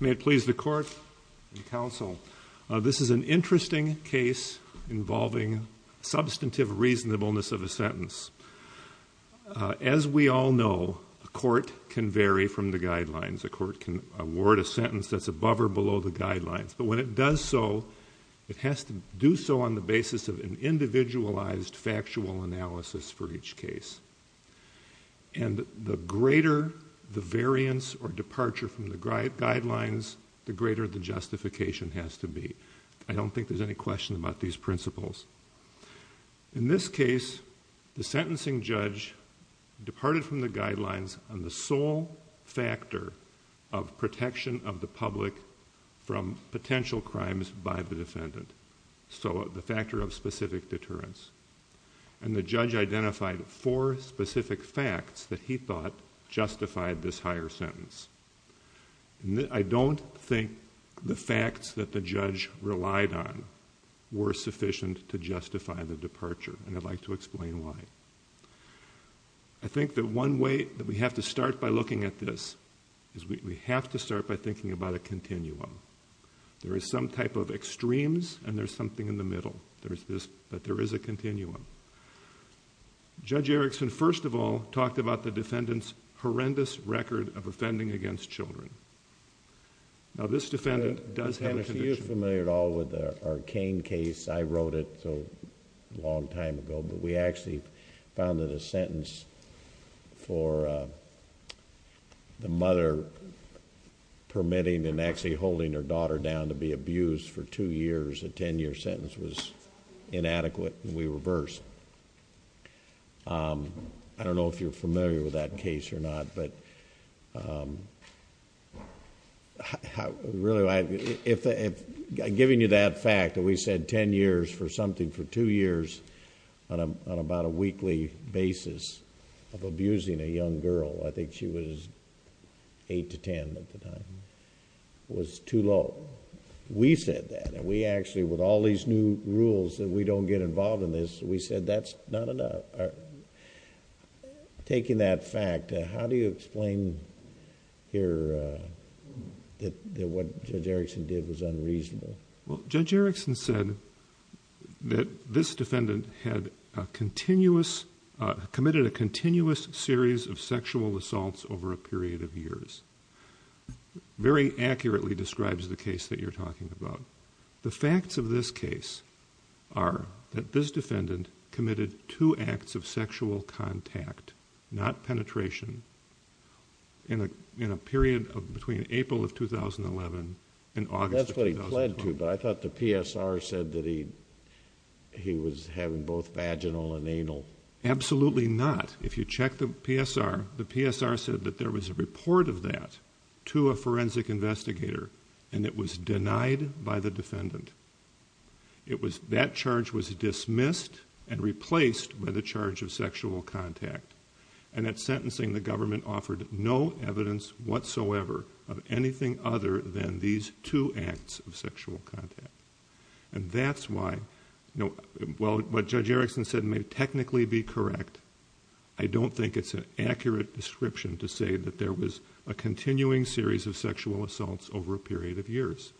May it please the court and counsel, this is an interesting case involving substantive reasonableness of a sentence. As we all know, a court can vary from the guidelines. A court can award a sentence that's above or below the guidelines. But when it does so, it has to do so on the basis of an individualized factual analysis for each case. And the greater the variance or departure from the guidelines, the greater the justification has to be. I don't think there's any question about these principles. In this case, the sentencing judge departed from the guidelines on the sole factor of protection of the public from potential crimes by the defendant. So the factor of specific deterrence. And the judge identified four specific facts that he thought justified this higher sentence. I don't think the facts that the judge relied on were sufficient to justify the departure. And I'd like to explain why. I think that one way that we have to start by looking at this is we have to start by thinking about a continuum. There is some type of extremes and there's something in the middle. But there is a continuum. Judge Erickson, first of all, talked about the defendant's horrendous record of offending against children. Now this defendant does have a condition... to be abused for two years. A ten-year sentence was inadequate and we reversed. I don't know if you're familiar with that case or not, but... I'm giving you that fact that we said ten years for something for two years on about a weekly basis of abusing a young girl. I think she was eight to ten at the time. It was too low. We said that and we actually, with all these new rules that we don't get involved in this, we said that's not enough. Taking that fact, how do you explain here that what Judge Erickson did was unreasonable? Well, Judge Erickson said that this defendant had a continuous... committed a continuous series of sexual assaults over a period of years. Very accurately describes the case that you're talking about. The facts of this case are that this defendant committed two acts of sexual contact... not penetration... in a period between April of 2011 and August of 2012. Excuse me, but I thought the PSR said that he was having both vaginal and anal... Absolutely not. If you check the PSR, the PSR said that there was a report of that to a forensic investigator and it was denied by the defendant. That charge was dismissed and replaced by the charge of sexual contact. And, at sentencing, the government offered no evidence whatsoever of anything other than these two acts of sexual contact. And, that's why... Well, what Judge Erickson said may technically be correct. I don't think it's an accurate description to say that there was a continuing series of sexual assaults over a period of years.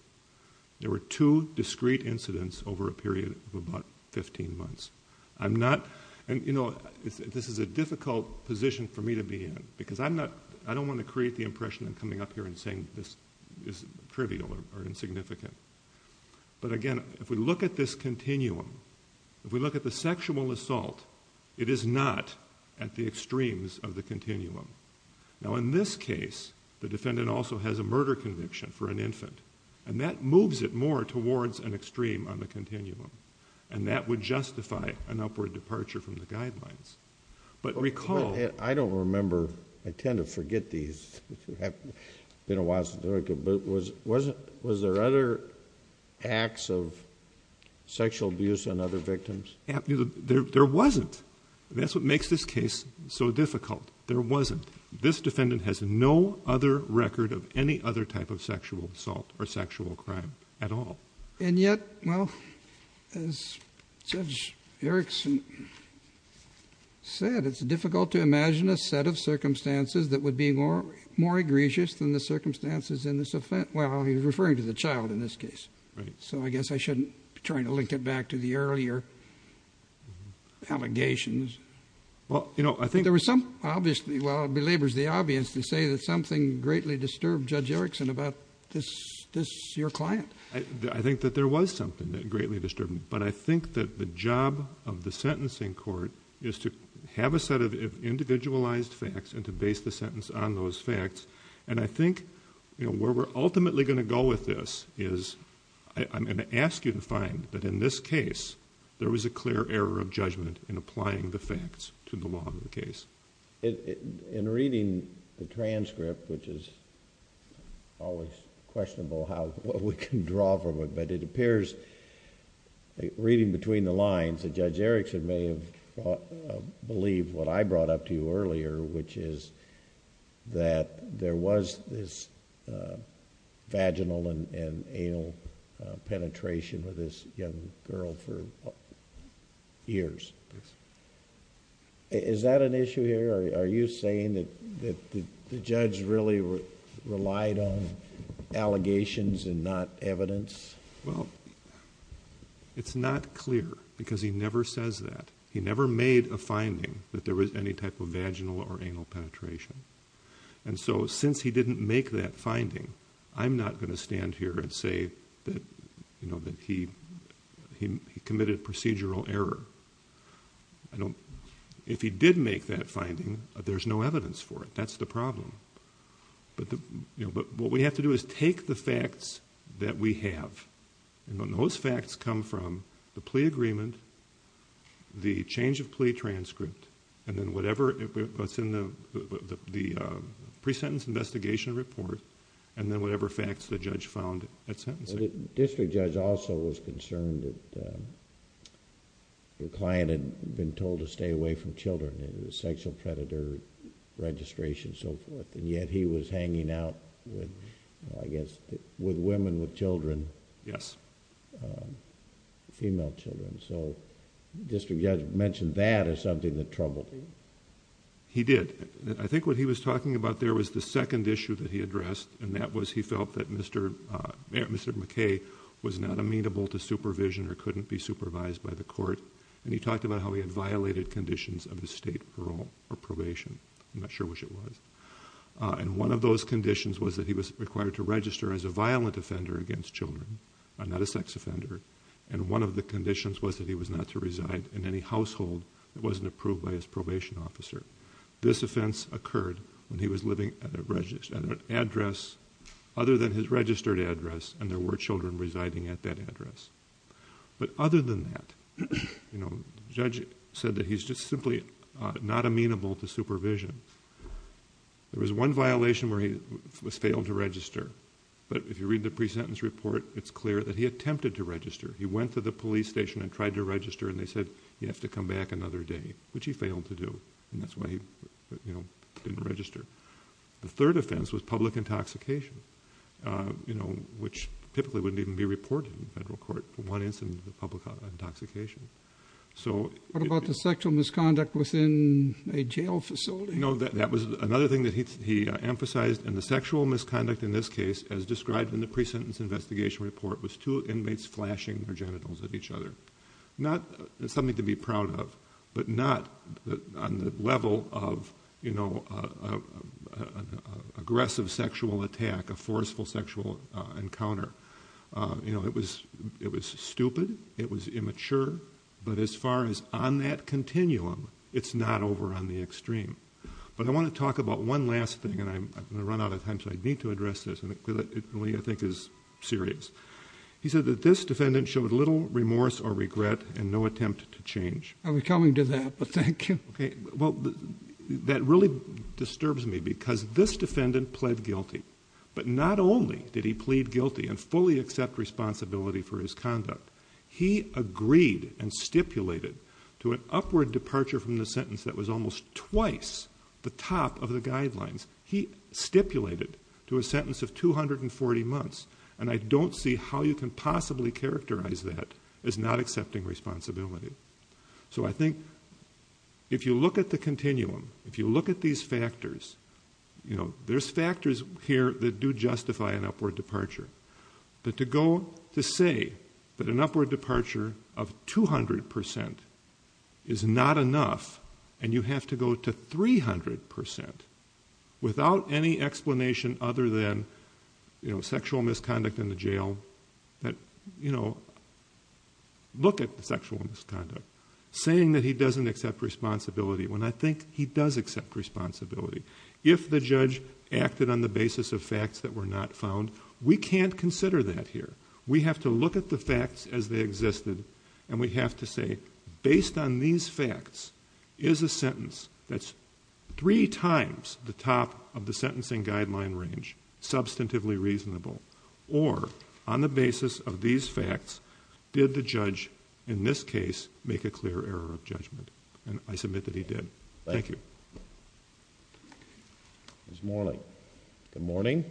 There were two discrete incidents over a period of about 15 months. I'm not... And, you know, this is a difficult position for me to be in because I'm not... I don't want to create the impression that I'm coming up here and saying this is trivial or insignificant. But, again, if we look at this continuum... If we look at the sexual assault, it is not at the extremes of the continuum. Now, in this case, the defendant also has a murder conviction for an infant. And, that moves it more towards an extreme on the continuum. And, that would justify an upward departure from the guidelines. But, recall... I don't remember... I tend to forget these. I've been in Washington, but was there other acts of sexual abuse on other victims? There wasn't. That's what makes this case so difficult. There wasn't. This defendant has no other record of any other type of sexual assault or sexual crime at all. And, yet... Well, as Judge Erickson said, it's difficult to imagine a set of circumstances that would be more egregious than the circumstances in this offense. Well, he's referring to the child in this case. Right. So, I guess I shouldn't be trying to link it back to the earlier allegations. Well, you know, I think... There was some... I think that there was something that greatly disturbed me. But, I think that the job of the sentencing court is to have a set of individualized facts and to base the sentence on those facts. And, I think where we're ultimately going to go with this is... I'm going to ask you to find that in this case, there was a clear error of judgment in applying the facts to the law of the case. In reading the transcript, which is always questionable how... what we can draw from it. But, it appears, reading between the lines, that Judge Erickson may have believed what I brought up to you earlier, which is that there was this vaginal and anal penetration with this young girl for years. Yes. Is that an issue here? Are you saying that the judge really relied on allegations and not evidence? Well, it's not clear because he never says that. He never made a finding that there was any type of vaginal or anal penetration. And so, since he didn't make that finding, I'm not going to stand here and say that he committed procedural error. If he did make that finding, there's no evidence for it. That's the problem. But, what we have to do is take the facts that we have. And, those facts come from the plea agreement, the change of plea transcript, and then whatever is in the pre-sentence investigation report, and then whatever facts the judge found at sentencing. The district judge also was concerned that the client had been told to stay away from children. It was a sexual predator registration and so forth. And yet, he was hanging out with, I guess, with women with children. Yes. Female children. So, the district judge mentioned that as something that troubled him. He did. I think what he was talking about there was the second issue that he addressed, and that was he felt that Mr. McKay was not amenable to supervision or couldn't be supervised by the court. And, he talked about how he had violated conditions of his state parole or probation. I'm not sure which it was. And, one of those conditions was that he was required to register as a violent offender against children, not a sex offender. And, one of the conditions was that he was not to reside in any household that wasn't approved by his probation officer. This offense occurred when he was living at an address other than his registered address, and there were children residing at that address. But, other than that, the judge said that he's just simply not amenable to supervision. There was one violation where he failed to register. But, if you read the pre-sentence report, it's clear that he attempted to register. He went to the police station and tried to register, and they said, you have to come back another day, which he failed to do. And, that's why he didn't register. The third offense was public intoxication, which typically wouldn't even be reported in federal court for one incident of public intoxication. What about the sexual misconduct within a jail facility? No, that was another thing that he emphasized. And, the sexual misconduct in this case, as described in the pre-sentence investigation report, was two inmates flashing their genitals at each other. Not something to be proud of, but not on the level of an aggressive sexual attack, a forceful sexual encounter. It was stupid. It was immature. But, as far as on that continuum, it's not over on the extreme. But, I want to talk about one last thing, and I'm going to run out of time, so I need to address this, and it really, I think, is serious. He said that this defendant showed little remorse or regret and no attempt to change. I was coming to that, but thank you. Okay. Well, that really disturbs me because this defendant pled guilty. But, not only did he plead guilty and fully accept responsibility for his conduct, he agreed and stipulated to an upward departure from the sentence that was almost twice the top of the guidelines. He stipulated to a sentence of 240 months. And I don't see how you can possibly characterize that as not accepting responsibility. So, I think if you look at the continuum, if you look at these factors, there's factors here that do justify an upward departure. But, to go to say that an upward departure of 200% is not enough, and you have to go to 300% without any explanation other than sexual misconduct in the jail, that, you know, look at the sexual misconduct. Saying that he doesn't accept responsibility when I think he does accept responsibility. If the judge acted on the basis of facts that were not found, we can't consider that here. We have to look at the facts as they existed, and we have to say, based on these facts, is a sentence that's three times the top of the sentencing guideline range substantively reasonable? Or, on the basis of these facts, did the judge, in this case, make a clear error of judgment? And I submit that he did. Thank you. Ms. Morley. Good morning.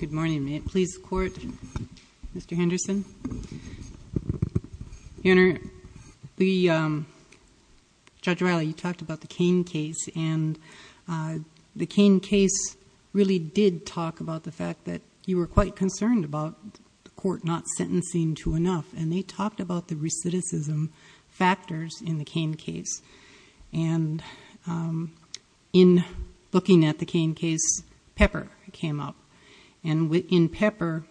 Good morning. May it please the Court, Mr. Henderson. Your Honor, Judge Riley, you talked about the Cain case, and the Cain case really did talk about the fact that you were quite concerned about the court not sentencing to enough. And they talked about the recidivism factors in the Cain case. And in looking at the Cain case, Pepper came up. And in Pepper,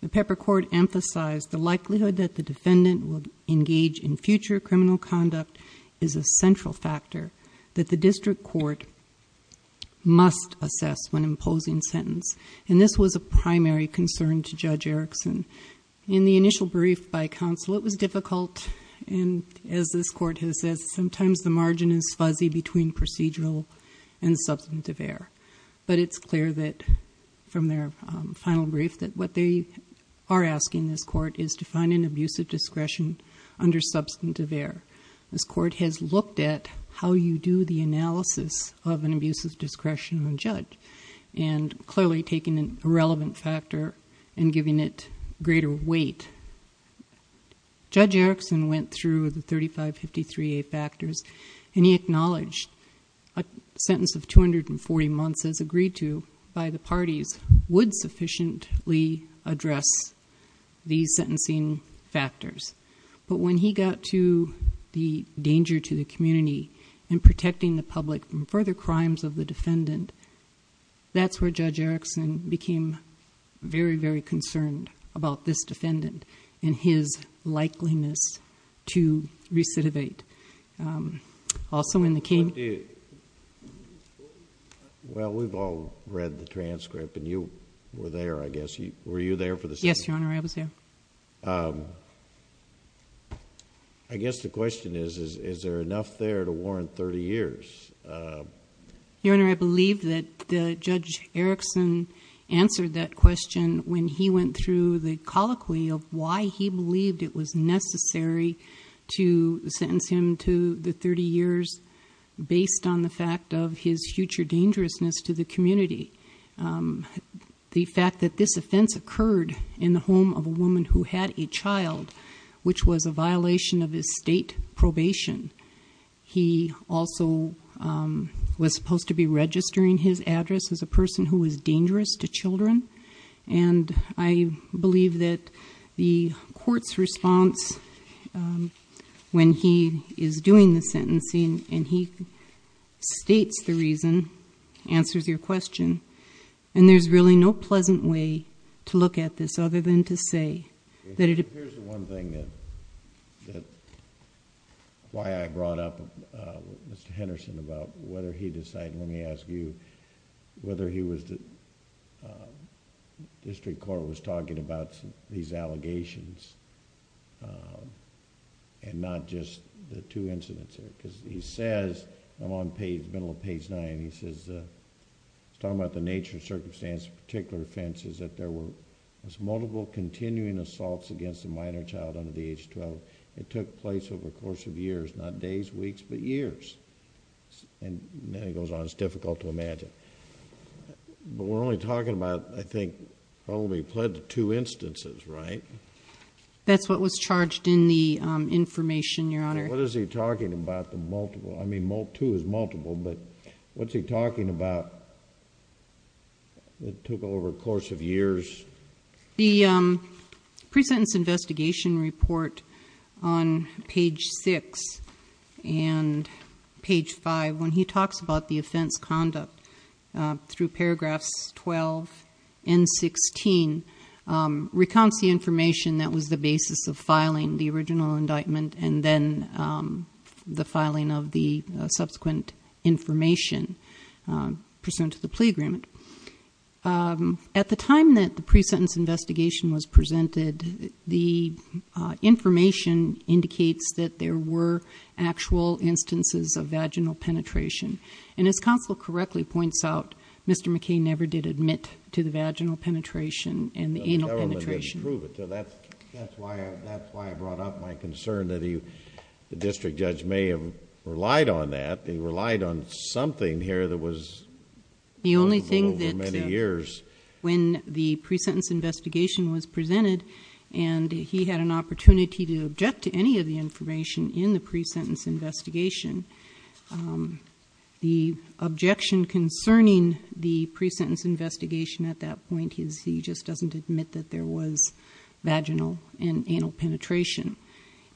the Pepper court emphasized the likelihood that the defendant would engage in future criminal conduct is a central factor that the district court must assess when imposing sentence. And this was a primary concern to Judge Erickson. In the initial brief by counsel, it was difficult. And as this court has said, sometimes the margin is fuzzy between procedural and substantive error. But it's clear that, from their final brief, that what they are asking this court is to find an abuse of discretion under substantive error. This court has looked at how you do the analysis of an abuse of discretion on a judge, and clearly taking an irrelevant factor and giving it greater weight. Judge Erickson went through the 3553A factors, and he acknowledged a sentence of 240 months, as agreed to by the parties, would sufficiently address these sentencing factors. But when he got to the danger to the community and protecting the public from further crimes of the defendant, that's where Judge Erickson became very, very concerned about this defendant and his likeliness to recidivate. Also in the Cain... Well, we've all read the transcript, and you were there, I guess. Were you there for the... Yes, Your Honor, I was there. I guess the question is, is there enough there to warrant 30 years? Your Honor, I believe that Judge Erickson answered that question when he went through the colloquy of why he believed it was necessary to sentence him to the 30 years based on the fact of his future dangerousness to the community. The fact that this offense occurred in the home of a woman who had a child, which was a violation of his state probation. He also was supposed to be registering his address as a person who was dangerous to children. And I believe that the court's response when he is doing the sentencing and he states the reason, answers your question, and there's really no pleasant way to look at this other than to say that it... Here's the one thing that... why I brought up Mr. Henderson about whether he decided... Let me ask you whether he was... District Court was talking about these allegations and not just the two incidents because he says... I'm on page... middle of page 9. He says... he's talking about the nature and circumstance of particular offenses that there were multiple continuing assaults against a minor child under the age of 12. It took place over the course of years, not days, weeks, but years. And then he goes on. It's difficult to imagine. But we're only talking about, I think, probably pled to two instances, right? That's what was charged in the information, Your Honor. What is he talking about, the multiple? I mean, two is multiple, but what's he talking about that took over a course of years? The pre-sentence investigation report on page 6 and page 5, when he talks about the offense conduct through paragraphs 12 and 16, recounts the information that was the basis of filing the original indictment and then the filing of the subsequent information pursuant to the plea agreement. At the time that the pre-sentence investigation was presented, the information indicates that there were actual instances of vaginal penetration. And as counsel correctly points out, Mr. McCain never did admit to the vaginal penetration and the anal penetration. The government didn't prove it. So that's why I brought up my concern that the district judge may have relied on that. He relied on something here that was... The only thing that...... over many years. When the pre-sentence investigation was presented and he had an opportunity to object to any of the information in the pre-sentence investigation, the objection concerning the pre-sentence investigation at that point is he just doesn't admit that there was vaginal and anal penetration.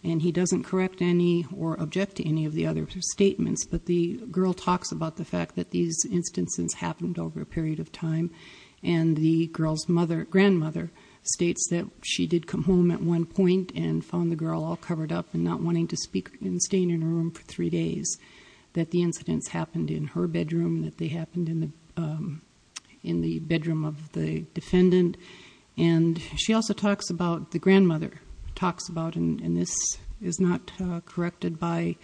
And he doesn't correct any or object to any of the other statements, but the girl talks about the fact that these instances happened over a period of time and the girl's grandmother states that she did come home at one point and found the girl all covered up and not wanting to speak and staying in her room for three days, that the incidents happened in her bedroom, that they happened in the bedroom of the defendant. And she also talks about... the grandmother talks about, and this is not corrected by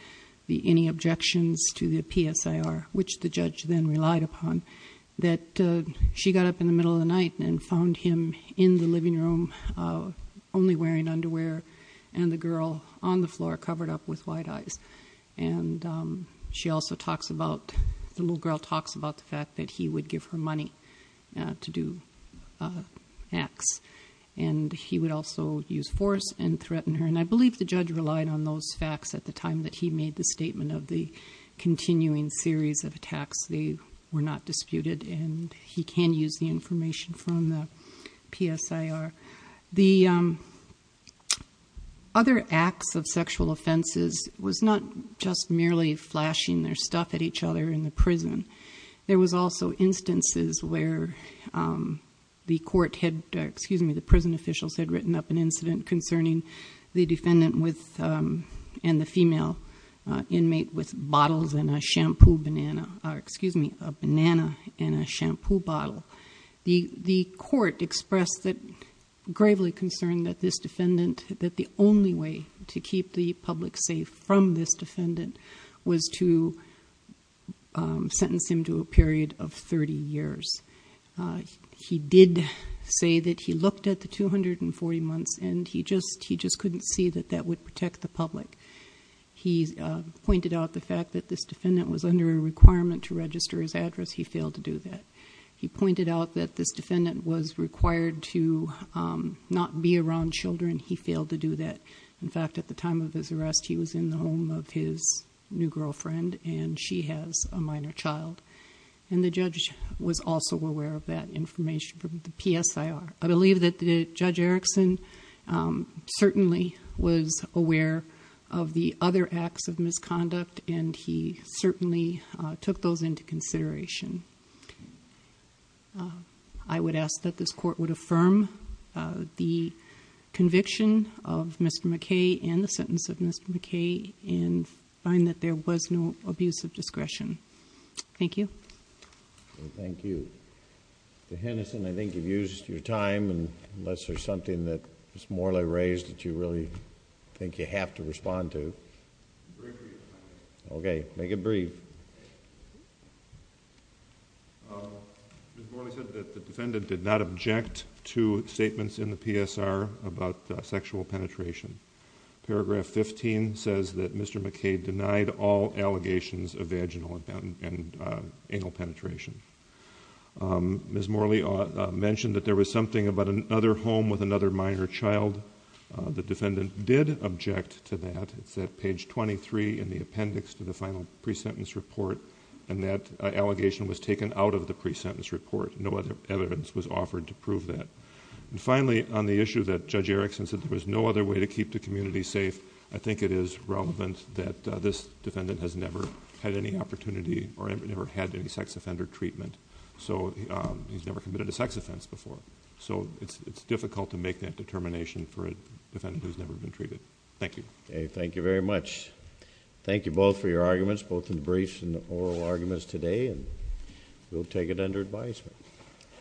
any objections to the PSIR, which the judge then relied upon, that she got up in the middle of the night and found him in the living room only wearing underwear and the girl on the floor covered up with wide eyes. And she also talks about... the little girl talks about the fact that he would give her money to do acts and he would also use force and threaten her. And I believe the judge relied on those facts at the time that he made the statement of the continuing series of attacks. They were not disputed and he can use the information from the PSIR. The other acts of sexual offenses was not just merely flashing their stuff at each other in the prison. There was also instances where the court had... excuse me, the prison officials had written up an incident concerning the defendant and the female inmate with bottles and a shampoo banana... excuse me, a banana and a shampoo bottle. The court expressed that... gravely concerned that this defendant... that the only way to keep the public safe from this defendant was to sentence him to a period of 30 years. He did say that he looked at the 240 months and he just couldn't see that that would protect the public. He pointed out the fact that this defendant was under a requirement to register his address. He failed to do that. He pointed out that this defendant was required to not be around children. He failed to do that. In fact, at the time of his arrest, he was in the home of his new girlfriend and she has a minor child. And the judge was also aware of that information from the PSIR. I believe that Judge Erickson certainly was aware of the other acts of misconduct and he certainly took those into consideration. I would ask that this court would affirm the conviction of Mr. McKay and the sentence of Mr. McKay and find that there was no abuse of discretion. Thank you. Thank you. Mr. Hennison, I think you've used your time. Unless there's something that Ms. Morley raised that you really think you have to respond to. Okay, make it brief. Ms. Morley said that the defendant did not object to statements in the PSIR about sexual penetration. Paragraph 15 says that Mr. McKay denied all allegations of vaginal and anal penetration. Ms. Morley mentioned that there was something about another home with another minor child. The defendant did object to that. It's at page 23 in the appendix to the final pre-sentence report and that allegation was taken out of the pre-sentence report. No other evidence was offered to prove that. And finally, on the issue that Judge Erickson said there was no other way to keep the community safe, I think it is relevant that this defendant has never had any opportunity or never had any sex offender treatment. So he's never committed a sex offense before. So it's difficult to make that determination for a defendant who's never been treated. Thank you. Okay, thank you very much. Thank you both for your arguments, both in briefs and oral arguments today. And we'll take it under advisement.